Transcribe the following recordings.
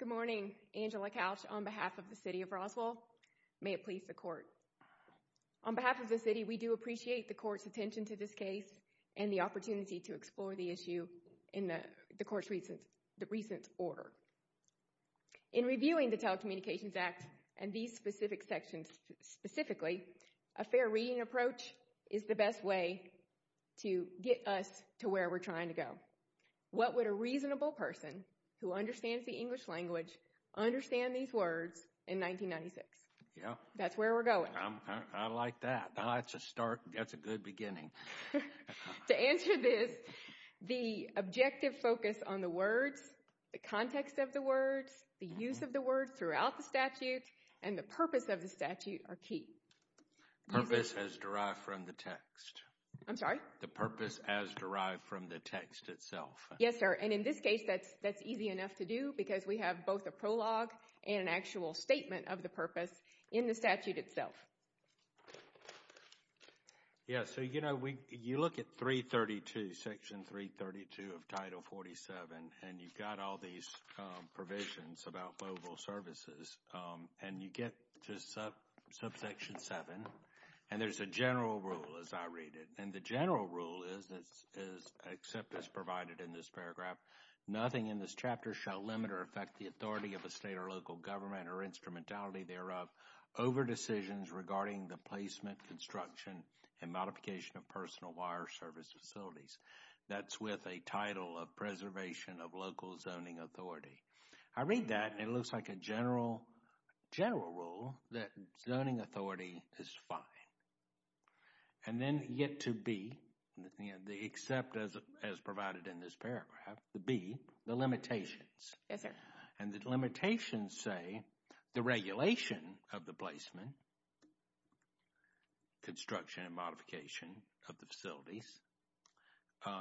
Good morning, Angela Couch on behalf of the City of Roswell. May it please the Court. On behalf of the City, we do appreciate the Court's attention to this case and the opportunity to explore the issue in the Court's recent order. In reviewing the Telecommunications Act and these specific sections specifically, a fair reading approach is the best way to get us to where we're trying to go. What would a reasonable person who understands the English language understand these words in 1996? Yeah. That's where we're going. I like that. That's a start. That's a good beginning. To answer this, the objective focus on the words, the context of the words, the use of the words throughout the statute, and the purpose of the statute are key. Purpose as derived from the text. I'm sorry? The purpose as derived from the text itself. Yes, sir. And in this case, that's easy enough to do because we have both a prologue and an actual statement of the purpose in the statute itself. Yeah. So, you know, you look at Section 332 of Title 47, and you've got all these provisions about mobile services, and you get to subsection 7, and there's a general rule as I read it. And the general rule is, except as provided in this paragraph, nothing in this chapter shall limit or affect the authority of a state or local government or instrumentality thereof over decisions regarding the placement, construction, and modification of personal wire service facilities. That's with a title of preservation of local zoning authority. I read that, and it looks like a general rule that zoning authority is fine. And then you get to B, except as provided in this paragraph, the B, the limitations. Yes, sir. And the limitations say the regulation of the placement, construction, and modification of the facilities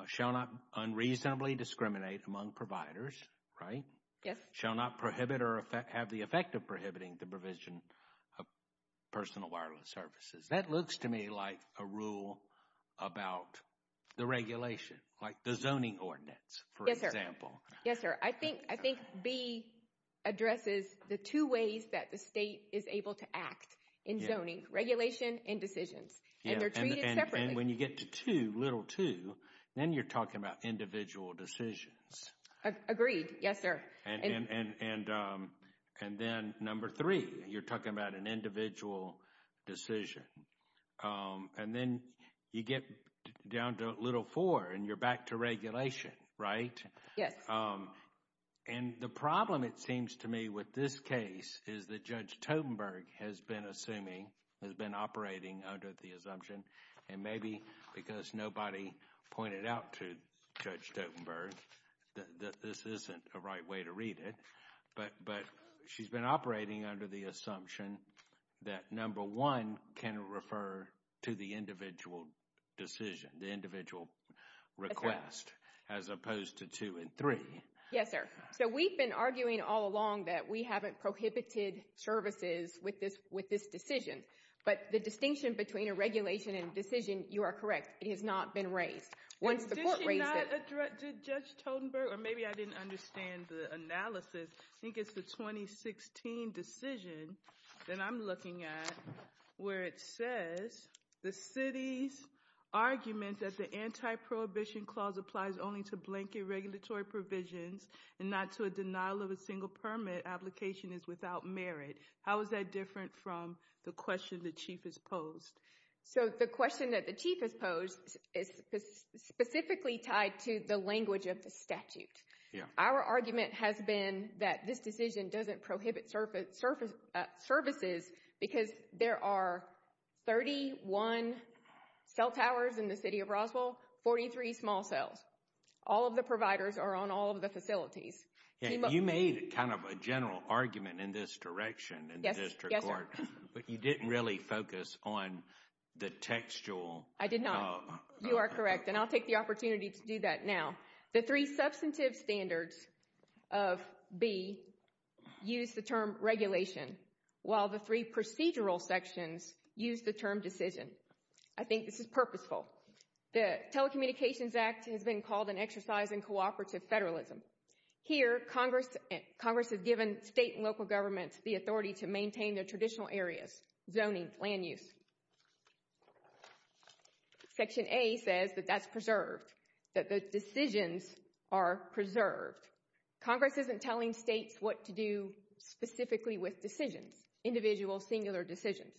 shall not unreasonably discriminate among providers, right? Yes. Shall not prohibit or have the effect of prohibiting the provision of personal wireless services. That looks to me like a rule about the regulation, like the zoning ordinance, for example. Yes, sir. I think B addresses the two ways that the state is able to act in zoning, regulation and decisions. And they're treated separately. And when you get to 2, little 2, then you're talking about individual decisions. Agreed. Yes, sir. And then number 3, you're talking about an individual decision. And then you get down to little 4, and you're back to regulation, right? Yes. And the problem, it seems to me, with this case is that Judge Totenberg has been assuming, has been operating under the assumption, and maybe because nobody pointed out to Judge Totenberg that this isn't a right way to read it, but she's been operating under the assumption that number 1 can refer to the individual decision, the individual request, as opposed to 2 and 3. Yes, sir. So we've been arguing all along that we haven't prohibited services with this decision. But the distinction between a regulation and a decision, you are correct, it has not been raised. Did Judge Totenberg, or maybe I didn't understand the analysis, I think it's the 2016 decision that I'm looking at, where it says the city's argument that the anti-prohibition clause applies only to blanket regulatory provisions and not to a denial of a single permit application is without merit. How is that different from the question the Chief has posed? So the question that the Chief has posed is specifically tied to the language of the statute. Our argument has been that this decision doesn't prohibit services because there are 31 cell towers in the city of Roswell, 43 small cells. All of the providers are on all of the facilities. You made kind of a general argument in this direction in the district court, but you didn't really focus on the textual. I did not. You are correct. And I'll take the opportunity to do that now. The three substantive standards of B use the term regulation, while the three procedural sections use the term decision. I think this is purposeful. The Telecommunications Act has been called an exercise in cooperative federalism. Here Congress has given state and local governments the authority to maintain their traditional areas, zoning, land use. Section A says that that's preserved, that the decisions are preserved. Congress isn't telling states what to do specifically with decisions, individual singular decisions.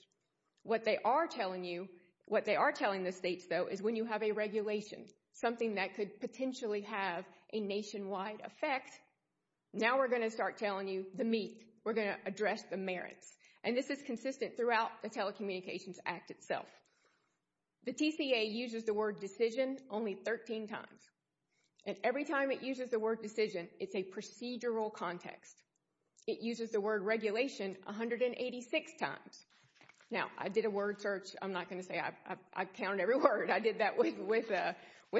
What they are telling you, what they are telling the states though, is when you have a regulation, something that could potentially have a nationwide effect, now we're going to start telling you the meat. We're going to address the merits. And this is consistent throughout the Telecommunications Act itself. The TCA uses the word decision only 13 times. And every time it uses the word decision, it's a procedural context. It uses the word regulation 186 times. Now I did a word search. I'm not going to say I count every word. I did that with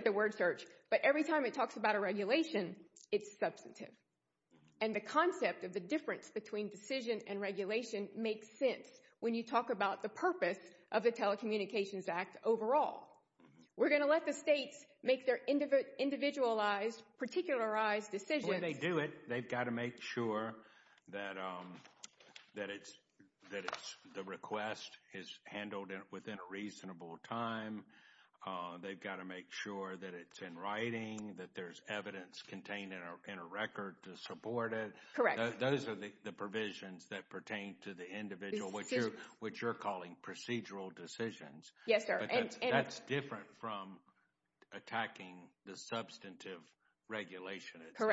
a word search. But every time it talks about a regulation, it's substantive. And the concept of the difference between decision and regulation makes sense when you talk about the purpose of the Telecommunications Act overall. We're going to let the states make their individualized, particularized decisions. And when they do it, they've got to make sure that it's, that it's, the request is handled within a reasonable time. They've got to make sure that it's in writing, that there's evidence contained in a record to support it. Correct. Those are the provisions that pertain to the individual, which you're calling procedural decisions. Yes, sir. But that's different from attacking the substantive regulation itself.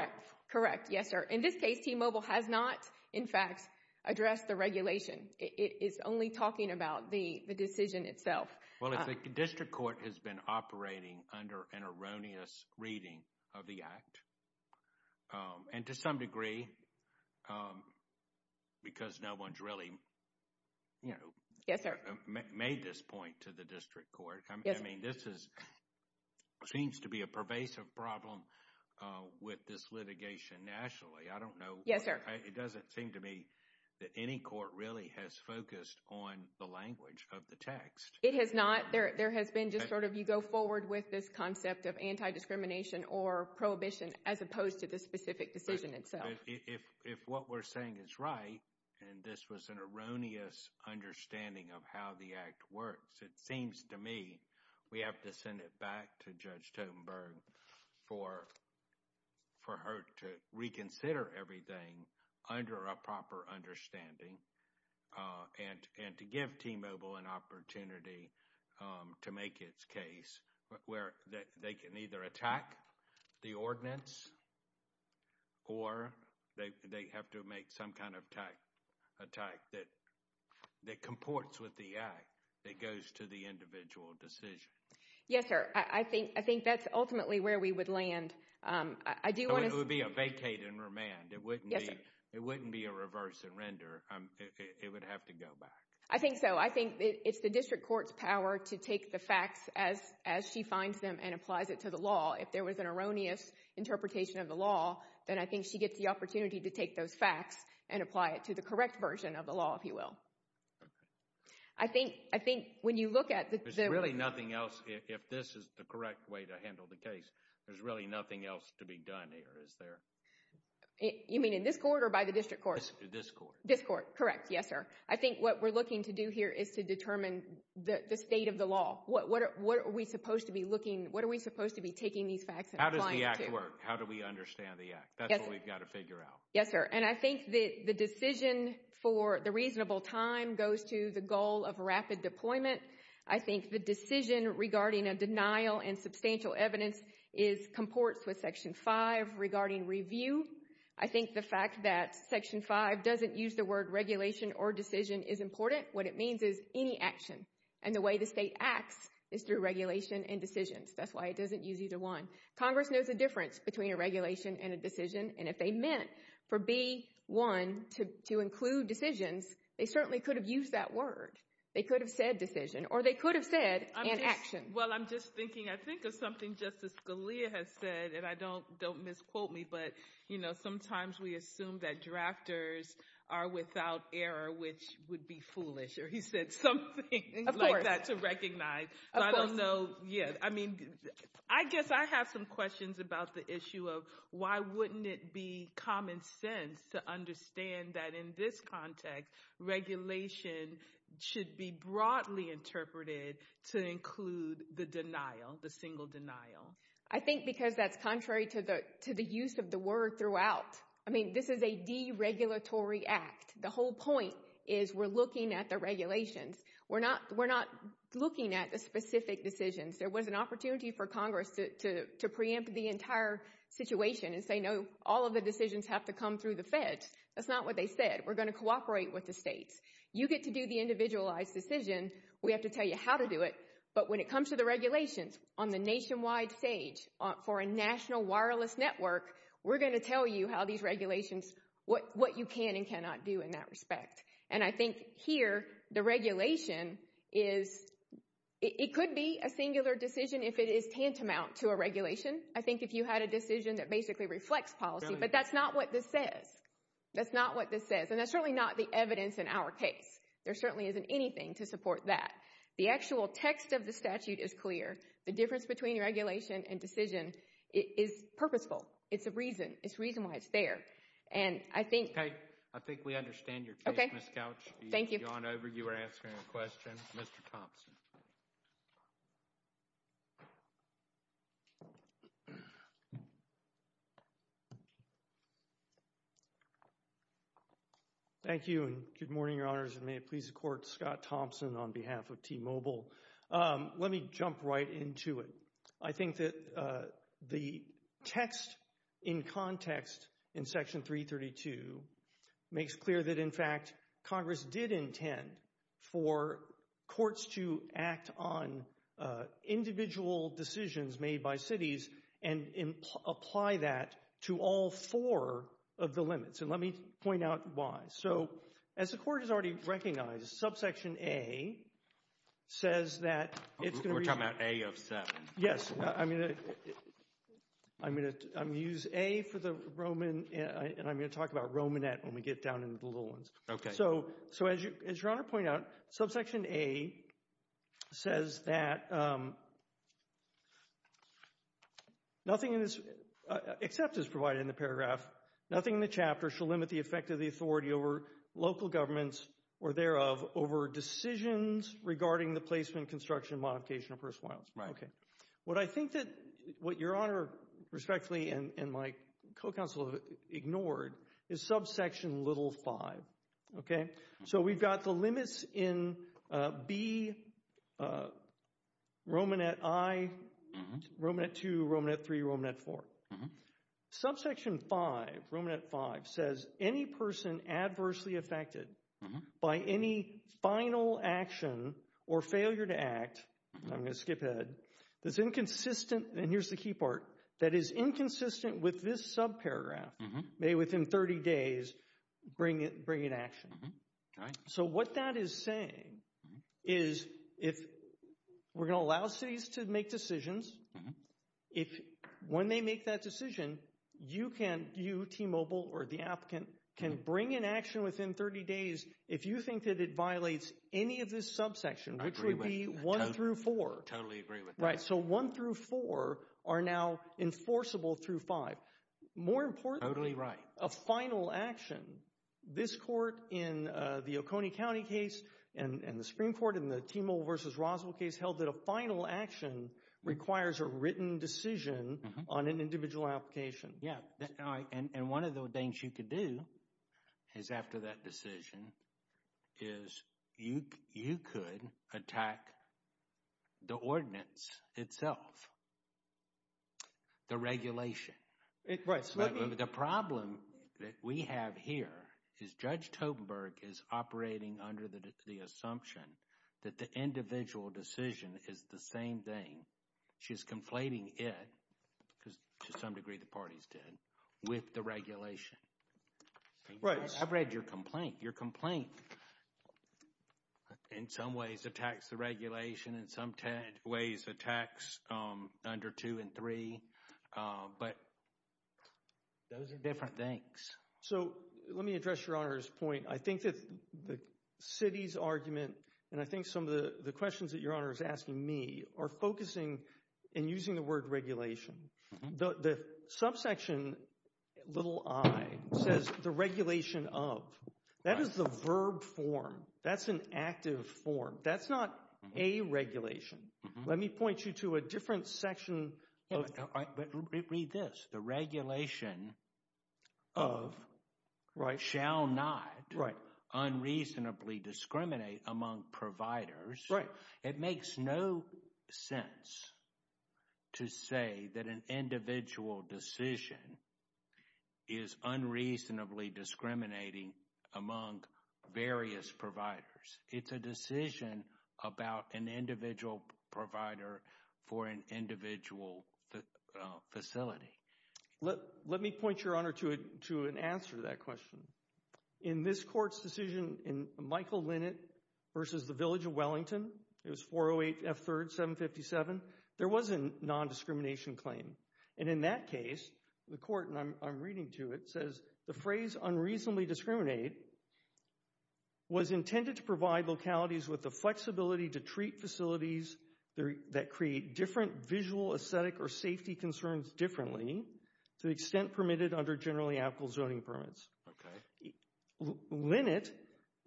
Correct. Yes, sir. In this case, T-Mobile has not, in fact, addressed the regulation. It's only talking about the decision itself. Well, if the district court has been operating under an erroneous reading of the Act, and to some degree, because no one's really, you know, made this point to the district court. I mean, this is, seems to be a pervasive problem with this litigation nationally. I don't know. Yes, sir. It doesn't seem to me that any court really has focused on the language of the text. It has not. There has been just sort of, you go forward with this concept of anti-discrimination or prohibition, as opposed to the specific decision itself. If what we're saying is right, and this was an erroneous understanding of how the Act works, it seems to me we have to send it back to Judge Totenberg for her to reconsider everything under a proper understanding and to give T-Mobile an opportunity to make its case where they can either attack the ordinance or they have to make some kind of attack that comports with the Act that goes to the individual decision. Yes, sir. I think that's ultimately where we would land. I do want to say— It would be a vacate and remand. Yes, sir. It wouldn't be a reverse and render. It would have to go back. I think so. I think it's the district court's power to take the facts as she finds them and applies it to the law. If there was an erroneous interpretation of the law, then I think she gets the opportunity to take those facts and apply it to the correct version of the law, if you will. I think when you look at the— There's really nothing else, if this is the correct way to handle the case, there's really nothing else to be done here, is there? You mean in this court or by the district court? This court. This court, correct. Yes, sir. I think what we're looking to do here is to determine the state of the law. What are we supposed to be looking—what are we supposed to be taking these facts and applying it to? How does the Act work? How do we understand the Act? That's what we've got to figure out. Yes, sir. And I think the decision for the reasonable time goes to the goal of rapid deployment. I think the decision regarding a denial and substantial evidence comports with Section 5 regarding review. I think the fact that Section 5 doesn't use the word regulation or decision is important. What it means is any action, and the way the state acts is through regulation and decisions. That's why it doesn't use either one. Congress knows the difference between a regulation and a decision, and if they meant for B.1 to include decisions, they certainly could have used that word. They could have said decision, or they could have said an action. Well, I'm just thinking, I think of something Justice Scalia has said, and don't misquote me, but, you know, sometimes we assume that drafters are without error, which would be foolish. Or he said something like that to recognize. Of course. So I don't know. Yeah. I mean, I guess I have some questions about the issue of why wouldn't it be common sense to understand that in this context, regulation should be broadly interpreted to include the denial, the single denial. I think because that's contrary to the use of the word throughout. I mean, this is a deregulatory act. The whole point is we're looking at the regulations. We're not looking at the specific decisions. There was an opportunity for Congress to preempt the entire situation and say, no, all of the decisions have to come through the feds. That's not what they said. We're going to cooperate with the states. You get to do the individualized decision. We have to tell you how to do it. But when it comes to the regulations on the nationwide stage for a national wireless network, we're going to tell you how these regulations, what you can and cannot do in that respect. And I think here the regulation is, it could be a singular decision if it is tantamount to a regulation. I think if you had a decision that basically reflects policy, but that's not what this says. That's not what this says. And that's certainly not the evidence in our case. There certainly isn't anything to support that. The actual text of the statute is clear. The difference between regulation and decision is purposeful. It's a reason. It's a reason why it's there. And I think... Okay. I think we understand your case, Ms. Couch. Okay. Thank you. You've gone over. You were answering a question. Mr. Thompson. Thank you, and good morning, Your Honors, and may it please the Court, Scott Thompson on behalf of T-Mobile. Let me jump right into it. I think that the text in context in Section 332 makes clear that, in fact, Congress did intend for courts to act on individual decisions made by cities and apply that to all four of the limits. And let me point out why. So, as the Court has already recognized, Subsection A says that it's going to be... We're talking about A of 7. Yes. I'm going to use A for the Roman, and I'm going to talk about Romanet when we get down into the little ones. Okay. So, as Your Honor pointed out, Subsection A says that nothing except is provided in that paragraph. Nothing in the chapter shall limit the effect of the authority over local governments or thereof over decisions regarding the placement, construction, modification, or personal violence. Okay. What I think that what Your Honor respectfully and my co-counsel have ignored is Subsection little 5. Okay? So, we've got the limits in B, Romanet I, Romanet II, Romanet III, Romanet IV. Subsection 5, Romanet V, says any person adversely affected by any final action or failure to act, I'm going to skip ahead, that's inconsistent, and here's the key part, that is inconsistent with this subparagraph may, within 30 days, bring in action. Okay. So, what that is saying is if we're going to allow cities to make decisions, if when they make that decision, you can, you, T-Mobile, or the applicant, can bring in action within 30 days if you think that it violates any of this subsection, which would be 1 through 4. I totally agree with that. Right. So, 1 through 4 are now enforceable through 5. More importantly, a final action, this court in the Oconee County case and the Supreme Court in the T-Mobile versus Roswell case held that a final action requires a written decision on an individual application. Yeah. And one of the things you could do is after that decision is you could attack the ordinance itself, the regulation. The problem that we have here is Judge Totenberg is operating under the assumption that the individual decision is the same thing. She's conflating it, because to some degree the parties did, with the regulation. Right. I've read your complaint. Your complaint in some ways attacks the regulation, in some ways attacks under 2 and 3, but those are different things. So, let me address Your Honor's point. I think that the city's argument and I think some of the questions that Your Honor is asking me are focusing in using the word regulation. The subsection, little i, says the regulation of. That is the verb form. That's an active form. That's not a regulation. Let me point you to a different section of... Read this. The regulation of shall not unreasonably discriminate among providers. Right. It makes no sense to say that an individual decision is unreasonably discriminating among various providers. It's a decision about an individual provider for an individual facility. Let me point Your Honor to an answer to that question. In this court's decision in Michael Linnet versus the Village of Wellington, it was 408 F. 3rd 757, there was a non-discrimination claim. And in that case, the court, and I'm reading to it, says the phrase unreasonably discriminate was intended to provide localities with the flexibility to treat facilities that create different visual, aesthetic, or safety concerns differently to the extent permitted under generally applicable zoning permits. Linnet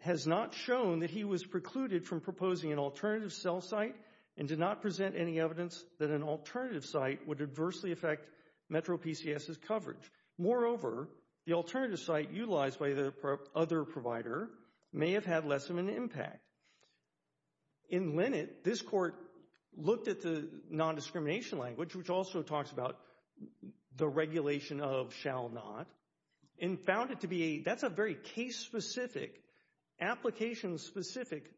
has not shown that he was precluded from proposing an alternative cell site and did not present any evidence that an alternative site would adversely affect Metro PCS's coverage. Moreover, the alternative site utilized by the other provider may have had less of an impact. In Linnet, this court looked at the non-discrimination language, which also talks about the regulation of shall not, and found it to be a, that's a very case-specific, application-specific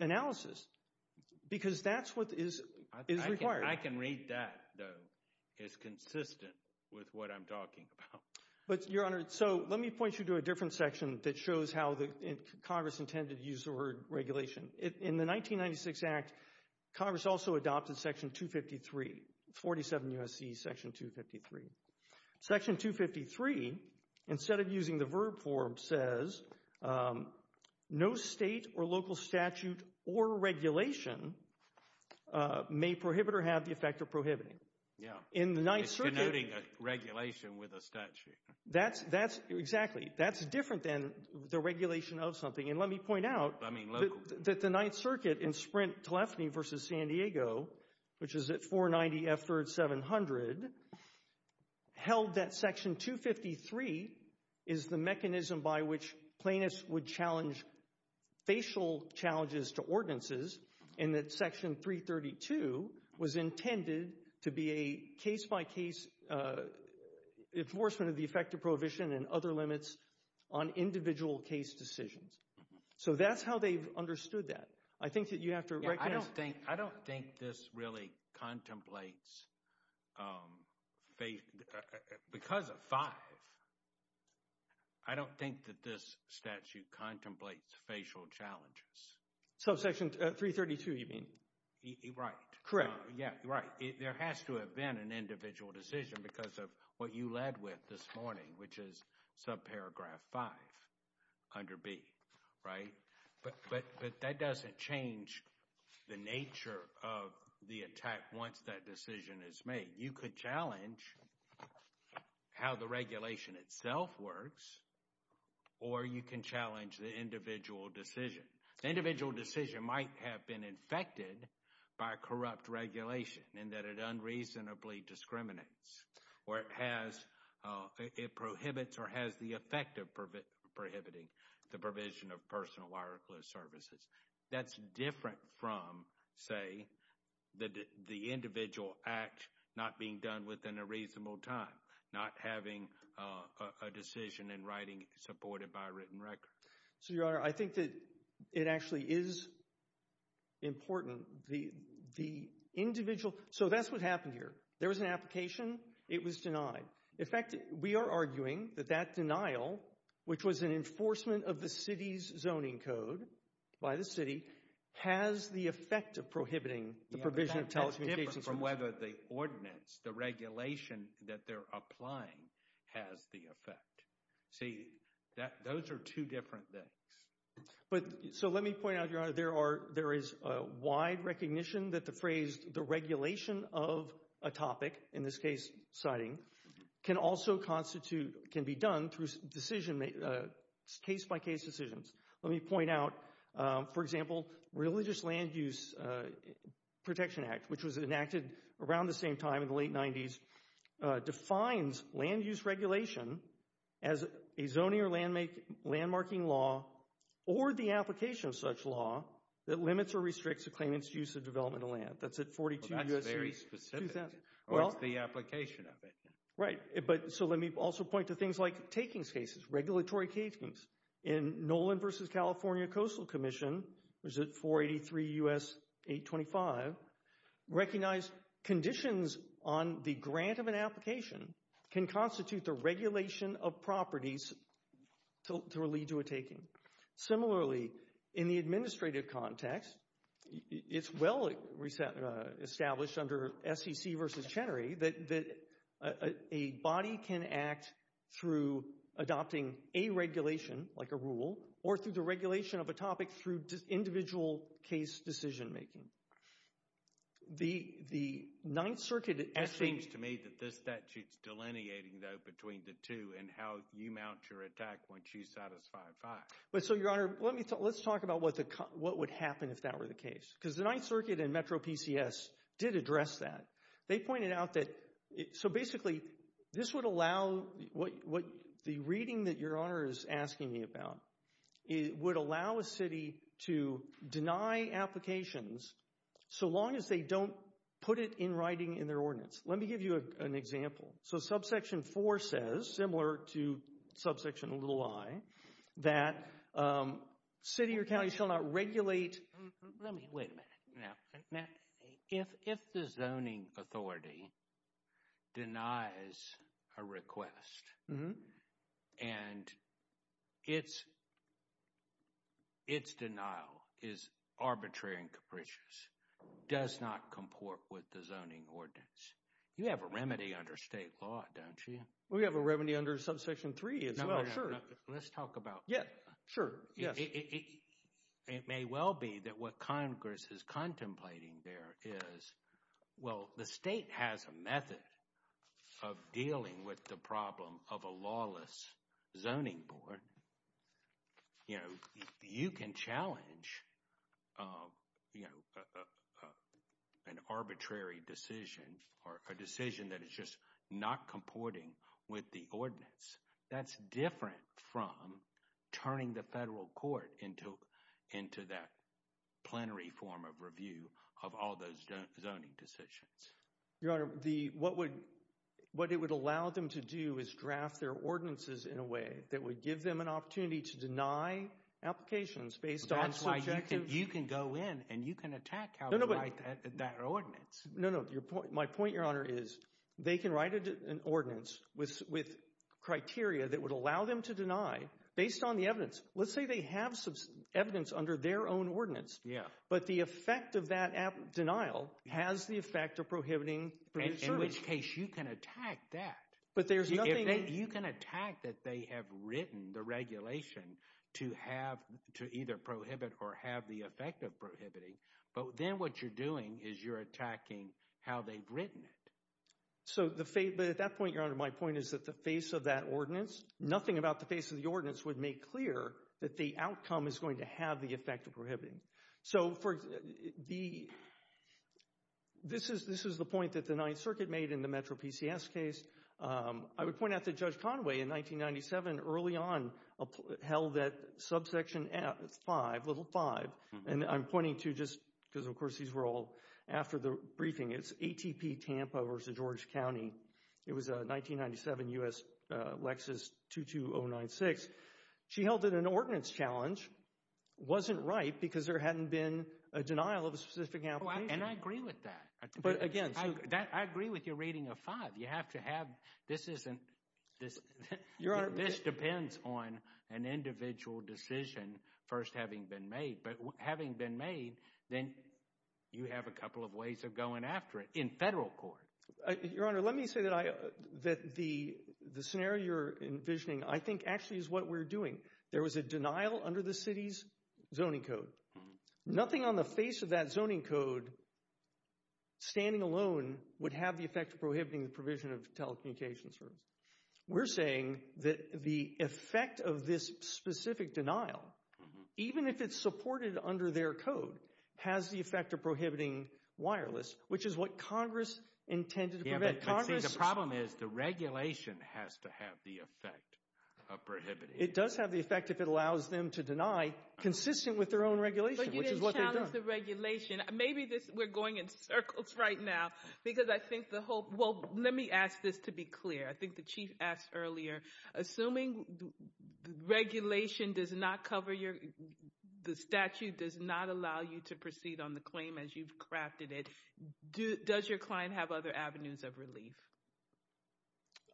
analysis because that's what is required. I can read that, though. It's consistent with what I'm talking about. But Your Honor, so let me point you to a different section that shows how Congress intended to use the word regulation. In the 1996 Act, Congress also adopted section 253, 47 U.S.C. section 253. Section 253, instead of using the verb form, says no state or local statute or regulation may prohibit or have the effect of prohibiting. In the 9th Circuit- It's denoting a regulation with a statute. That's exactly, that's different than the regulation of something. And let me point out- That the 9th Circuit in Sprint-Tilafne v. San Diego, which is at 490 F. 3rd, 700, held that section 253 is the mechanism by which plaintiffs would challenge facial challenges to ordinances, and that section 332 was intended to be a case-by-case enforcement of the effect of prohibition and other limits on individual case decisions. So that's how they've understood that. I think that you have to- Yeah, I don't think this really contemplates, because of 5, I don't think that this statute contemplates facial challenges. So section 332 you mean? Right. Correct. Yeah, right. There has to have been an individual decision because of what you led with this morning, which is subparagraph 5 under B, right? But that doesn't change the nature of the attack once that decision is made. You could challenge how the regulation itself works, or you can challenge the individual decision. The individual decision might have been infected by a corrupt regulation in that it unreasonably discriminates, or it has, it prohibits or has the effect of prohibiting the provision of personal wireless services. That's different from, say, the individual act not being done within a reasonable time, not having a decision in writing supported by a written record. So Your Honor, I think that it actually is important, the individual, so that's what happened here. There was an application. It was denied. In fact, we are arguing that that denial, which was an enforcement of the city's zoning code by the city, has the effect of prohibiting the provision of telecommunications. Yeah, but that's different from whether the ordinance, the regulation that they're applying has the effect. See, those are two different things. So let me point out, Your Honor, there is a wide recognition that the phrase, the regulation of a topic, in this case, siting, can also constitute, can be done through decision, case-by-case decisions. Let me point out, for example, Religious Land Use Protection Act, which was enacted around the same time in the late 90s, defines land use regulation as a zoning or landmarking law or the application of such law that limits or restricts a claimant's use of developmental land. That's at 42 U.S. 2,000. Well, that's very specific. Well. Or it's the application of it. Right. But, so let me also point to things like takings cases, regulatory takings. In Nolan v. California Coastal Commission, which is at 483 U.S. 825, recognized conditions on the grant of an application can constitute the regulation of properties to lead to a taking. Similarly, in the administrative context, it's well established under SEC v. Chenery that a body can act through adopting a regulation, like a rule, or through the regulation of a topic through individual case decision making. The Ninth Circuit. It seems to me that this statute's delineating, though, between the two and how you mount your attack when she's satisfied by it. So, Your Honor, let's talk about what would happen if that were the case, because the Ninth Circuit and Metro PCS did address that. They pointed out that, so basically, this would allow, what the reading that Your Honor is asking me about, it would allow a city to deny applications so long as they don't put it in writing in their ordinance. Let me give you an example. So, subsection 4 says, similar to subsection little i, that city or county shall not regulate... Let me, wait a minute. If the zoning authority denies a request and its denial is arbitrary and capricious, does not comport with the zoning ordinance. You have a remedy under state law, don't you? We have a remedy under subsection 3 as well, sure. Let's talk about... Yeah, sure. Yes. It may well be that what Congress is contemplating there is, well, the state has a method of dealing with the problem of a lawless zoning board. You know, you can challenge, you know, an arbitrary decision or a decision that is just not comporting with the ordinance. That's different from turning the federal court into that plenary form of review of all those zoning decisions. Your Honor, what it would allow them to do is draft their ordinances in a way that would give them an opportunity to deny applications based on subjective... That's why you can go in and you can attack how they write that ordinance. No, no. My point, Your Honor, is they can write an ordinance with criteria that would allow them to deny based on the evidence. Let's say they have some evidence under their own ordinance, but the effect of that denial has the effect of prohibiting service. In which case, you can attack that. But there's nothing... You can attack that they have written the regulation to have, to either prohibit or have the effect of prohibiting, but then what you're doing is you're attacking how they've written it. But at that point, Your Honor, my point is that the face of that ordinance, nothing about the face of the ordinance would make clear that the outcome is going to have the effect of prohibiting. So this is the point that the Ninth Circuit made in the Metro PCS case. I would point out that Judge Conway, in 1997, early on, held that subsection 5, little 5, and I'm pointing to just, because of course these were all after the briefing, it's ATP Tampa versus George County. It was a 1997 U.S. Lexus 22096. She held it an ordinance challenge. Wasn't right because there hadn't been a denial of a specific application. And I agree with that. But again, so... I agree with your rating of 5. You have to have, this isn't, this depends on an individual decision first having been made. But having been made, then you have a couple of ways of going after it in federal court. Your Honor, let me say that the scenario you're envisioning, I think actually is what we're doing. There was a denial under the city's zoning code. Nothing on the face of that zoning code, standing alone, would have the effect of prohibiting the provision of telecommunications service. We're saying that the effect of this specific denial, even if it's supported under their code, has the effect of prohibiting wireless, which is what Congress intended to prevent. Yeah, but see, the problem is the regulation has to have the effect of prohibiting it. It does have the effect if it allows them to deny, consistent with their own regulation, which is what they've done. But you didn't challenge the regulation. Maybe this, we're going in circles right now, because I think the whole, well, let me ask this to be clear. I think the Chief asked earlier, assuming the regulation does not cover your, the statute does not allow you to proceed on the claim as you've crafted it, does your client have other avenues of relief?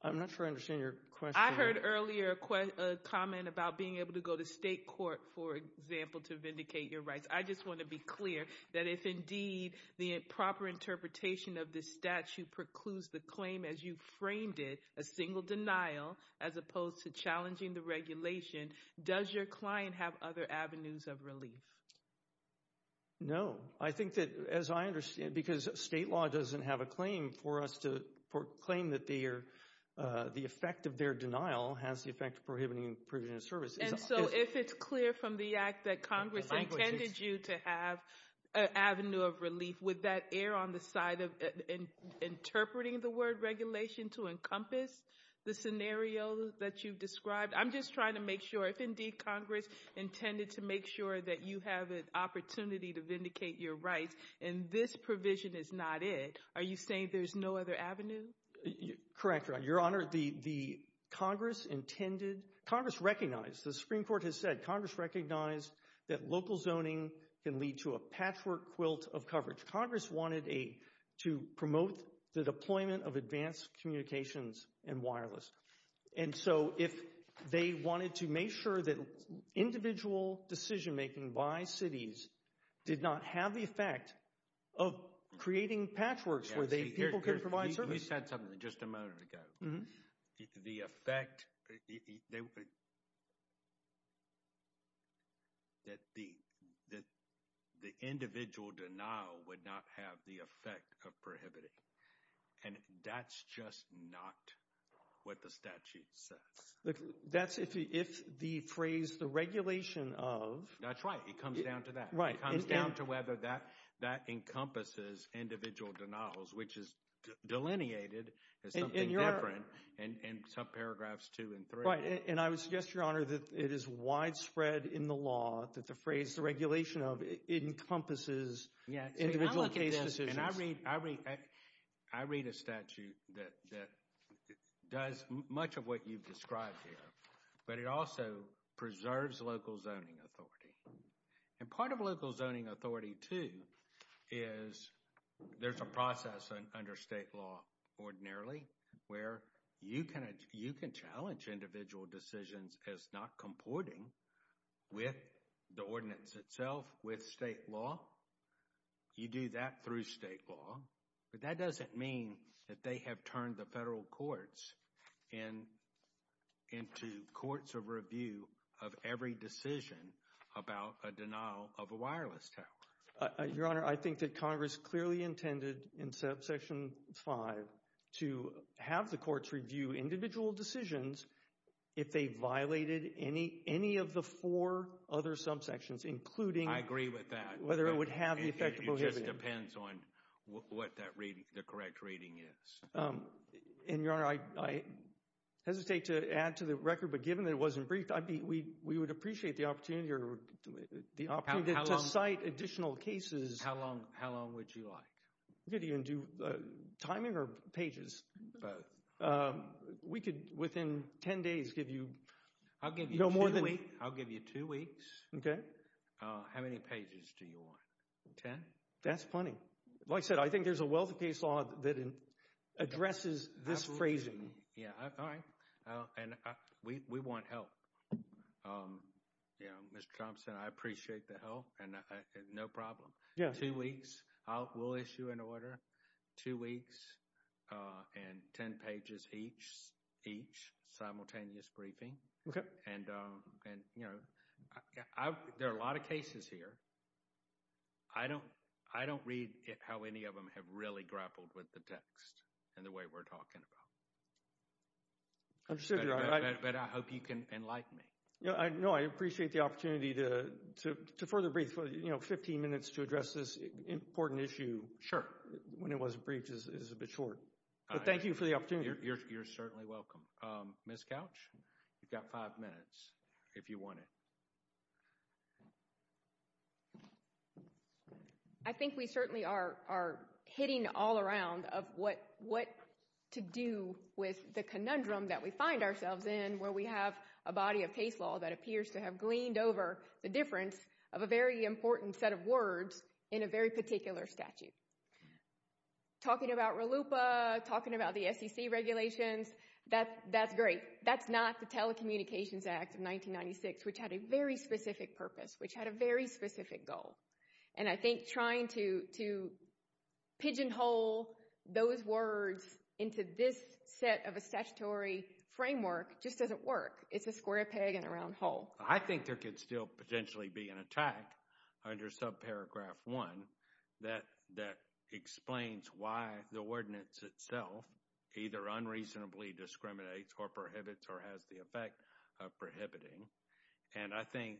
I'm not sure I understand your question. I heard earlier a comment about being able to go to state court, for example, to vindicate your rights. I just want to be clear that if indeed the proper interpretation of this statute precludes the claim as you framed it, a single denial, as opposed to challenging the regulation, does your client have other avenues of relief? No. I think that, as I understand, because state law doesn't have a claim for us to claim that the effect of their denial has the effect of prohibiting provision of service. And so if it's clear from the act that Congress intended you to have an avenue of relief, would that err on the side of interpreting the word regulation to encompass the scenario that you've described? I'm just trying to make sure, if indeed Congress intended to make sure that you have an opportunity to vindicate your rights, and this provision is not it, are you saying there's no other avenue? Correct, Your Honor. Your Honor, the Congress intended, Congress recognized, the Supreme Court has said, Congress recognized that local zoning can lead to a patchwork quilt of coverage. Congress wanted to promote the deployment of advanced communications and wireless. And so if they wanted to make sure that individual decision making by cities did not have the effect of creating patchworks where people could provide service. You said something just a moment ago, the effect, that the individual denial would not have the effect of prohibiting. And that's just not what the statute says. That's if the phrase, the regulation of. That's right. It comes down to that. Right. It comes down to whether that encompasses individual denials, which is delineated as something different in some paragraphs two and three. Right. And I would suggest, Your Honor, that it is widespread in the law that the phrase, the regulation of, encompasses individual case decisions. And I read a statute that does much of what you've described here, but it also preserves local zoning authority. And part of local zoning authority, too, is there's a process under state law ordinarily where you can challenge individual decisions as not comporting with the ordinance itself, with state law. You do that through state law, but that doesn't mean that they have turned the federal courts into courts of review of every decision about a denial of a wireless tower. Your Honor, I think that Congress clearly intended in subsection five to have the courts review individual decisions if they violated any of the four other subsections, including I agree with that. Whether it would have the effect of prohibiting. It just depends on what that reading, the correct reading is. And, Your Honor, I hesitate to add to the record, but given that it wasn't briefed, we would appreciate the opportunity to cite additional cases. How long would you like? We could even do timing or pages. Both. We could, within ten days, give you no more than. I'll give you two weeks. Okay. How many pages do you want, ten? That's plenty. Like I said, I think there's a wealth of case law that addresses this phrasing. Yeah. All right. And, we want help. You know, Mr. Thompson, I appreciate the help. And, no problem. Yeah. Two weeks. We'll issue an order. Two weeks and ten pages each, simultaneous briefing. Okay. And, you know, there are a lot of cases here. I don't read how any of them have really grappled with the text and the way we're talking about. I understand, Your Honor. But, I hope you can enlighten me. No, I appreciate the opportunity to further brief. You know, 15 minutes to address this important issue. When it wasn't briefed is a bit short. But, thank you for the opportunity. You're certainly welcome. Ms. Couch, you've got five minutes, if you want it. I think we certainly are hitting all around of what to do with the conundrum that we find ourselves in where we have a body of case law that appears to have gleaned over the difference of a very important set of words in a very particular statute. Talking about RLUIPA, talking about the SEC regulations, that's great. That's not the Telecommunications Act of 1996, which had a very specific purpose, which had a very specific goal. And I think trying to pigeonhole those words into this set of a statutory framework just doesn't work. It's a square peg in a round hole. I think there could still potentially be an attack under subparagraph one that explains why the ordinance itself either unreasonably discriminates or prohibits or has the effect of prohibiting. And I think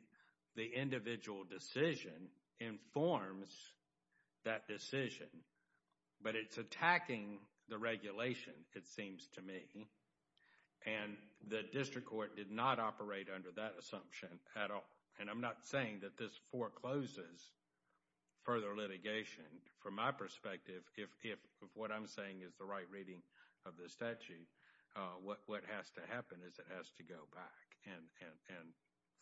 the individual decision informs that decision. But it's attacking the regulation, it seems to me. And the district court did not operate under that assumption at all. And I'm not saying that this forecloses further litigation. From my perspective, if what I'm saying is the right reading of the statute, what has to happen is it has to go back and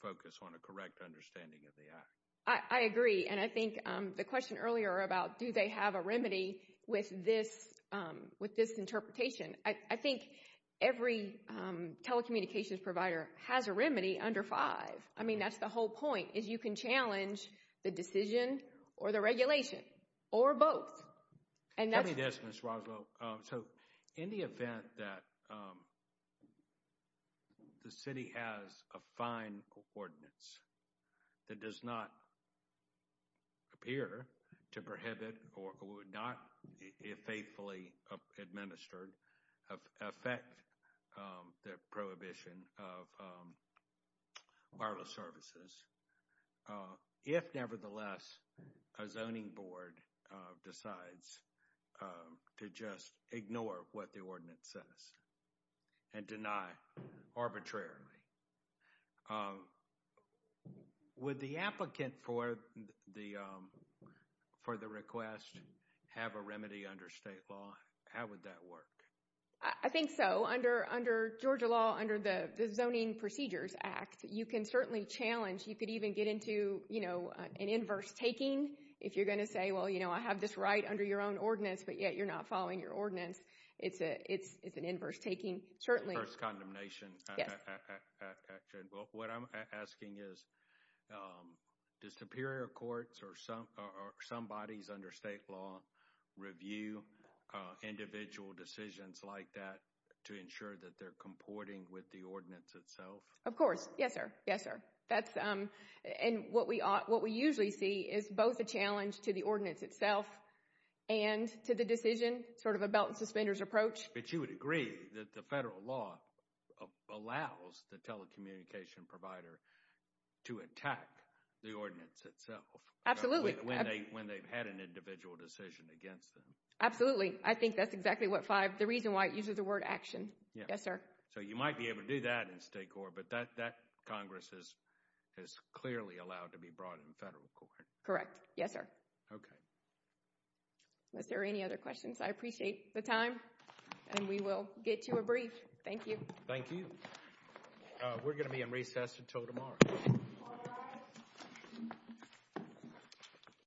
focus on a correct understanding of the act. I agree. And I think the question earlier about do they have a remedy with this interpretation, I think every telecommunications provider has a remedy under five. I mean, that's the whole point, is you can challenge the decision or the regulation or both. Let me dismiss, Roswell. So, in the event that the city has a fine ordinance that does not appear to prohibit or would not, if faithfully administered, affect the prohibition of wireless services, if, nevertheless, a zoning board decides to just ignore what the ordinance says and deny arbitrarily, would the applicant for the request have a remedy under state law? How would that work? I think so. Under Georgia law, under the Zoning Procedures Act, you can certainly challenge. You could even get into an inverse taking. If you're going to say, well, I have this right under your own ordinance, but yet you're not following your ordinance, it's an inverse taking, certainly. Inverse condemnation. Yes. What I'm asking is, do superior courts or some bodies under state law review individual decisions like that to ensure that they're comporting with the ordinance itself? Of course. Yes, sir. Yes, sir. What we usually see is both a challenge to the ordinance itself and to the decision, sort of a belt and suspenders approach. But you would agree that the federal law allows the telecommunication provider to attack the ordinance itself when they've had an individual decision against them? Absolutely. Absolutely. I think that's exactly what five, the reason why it uses the word action. Yes, sir. So you might be able to do that in state court, but that Congress has clearly allowed to be brought in federal court. Correct. Yes, sir. Okay. Unless there are any other questions, I appreciate the time. And we will get to a brief. Thank you. Thank you. We're going to be in recess until tomorrow.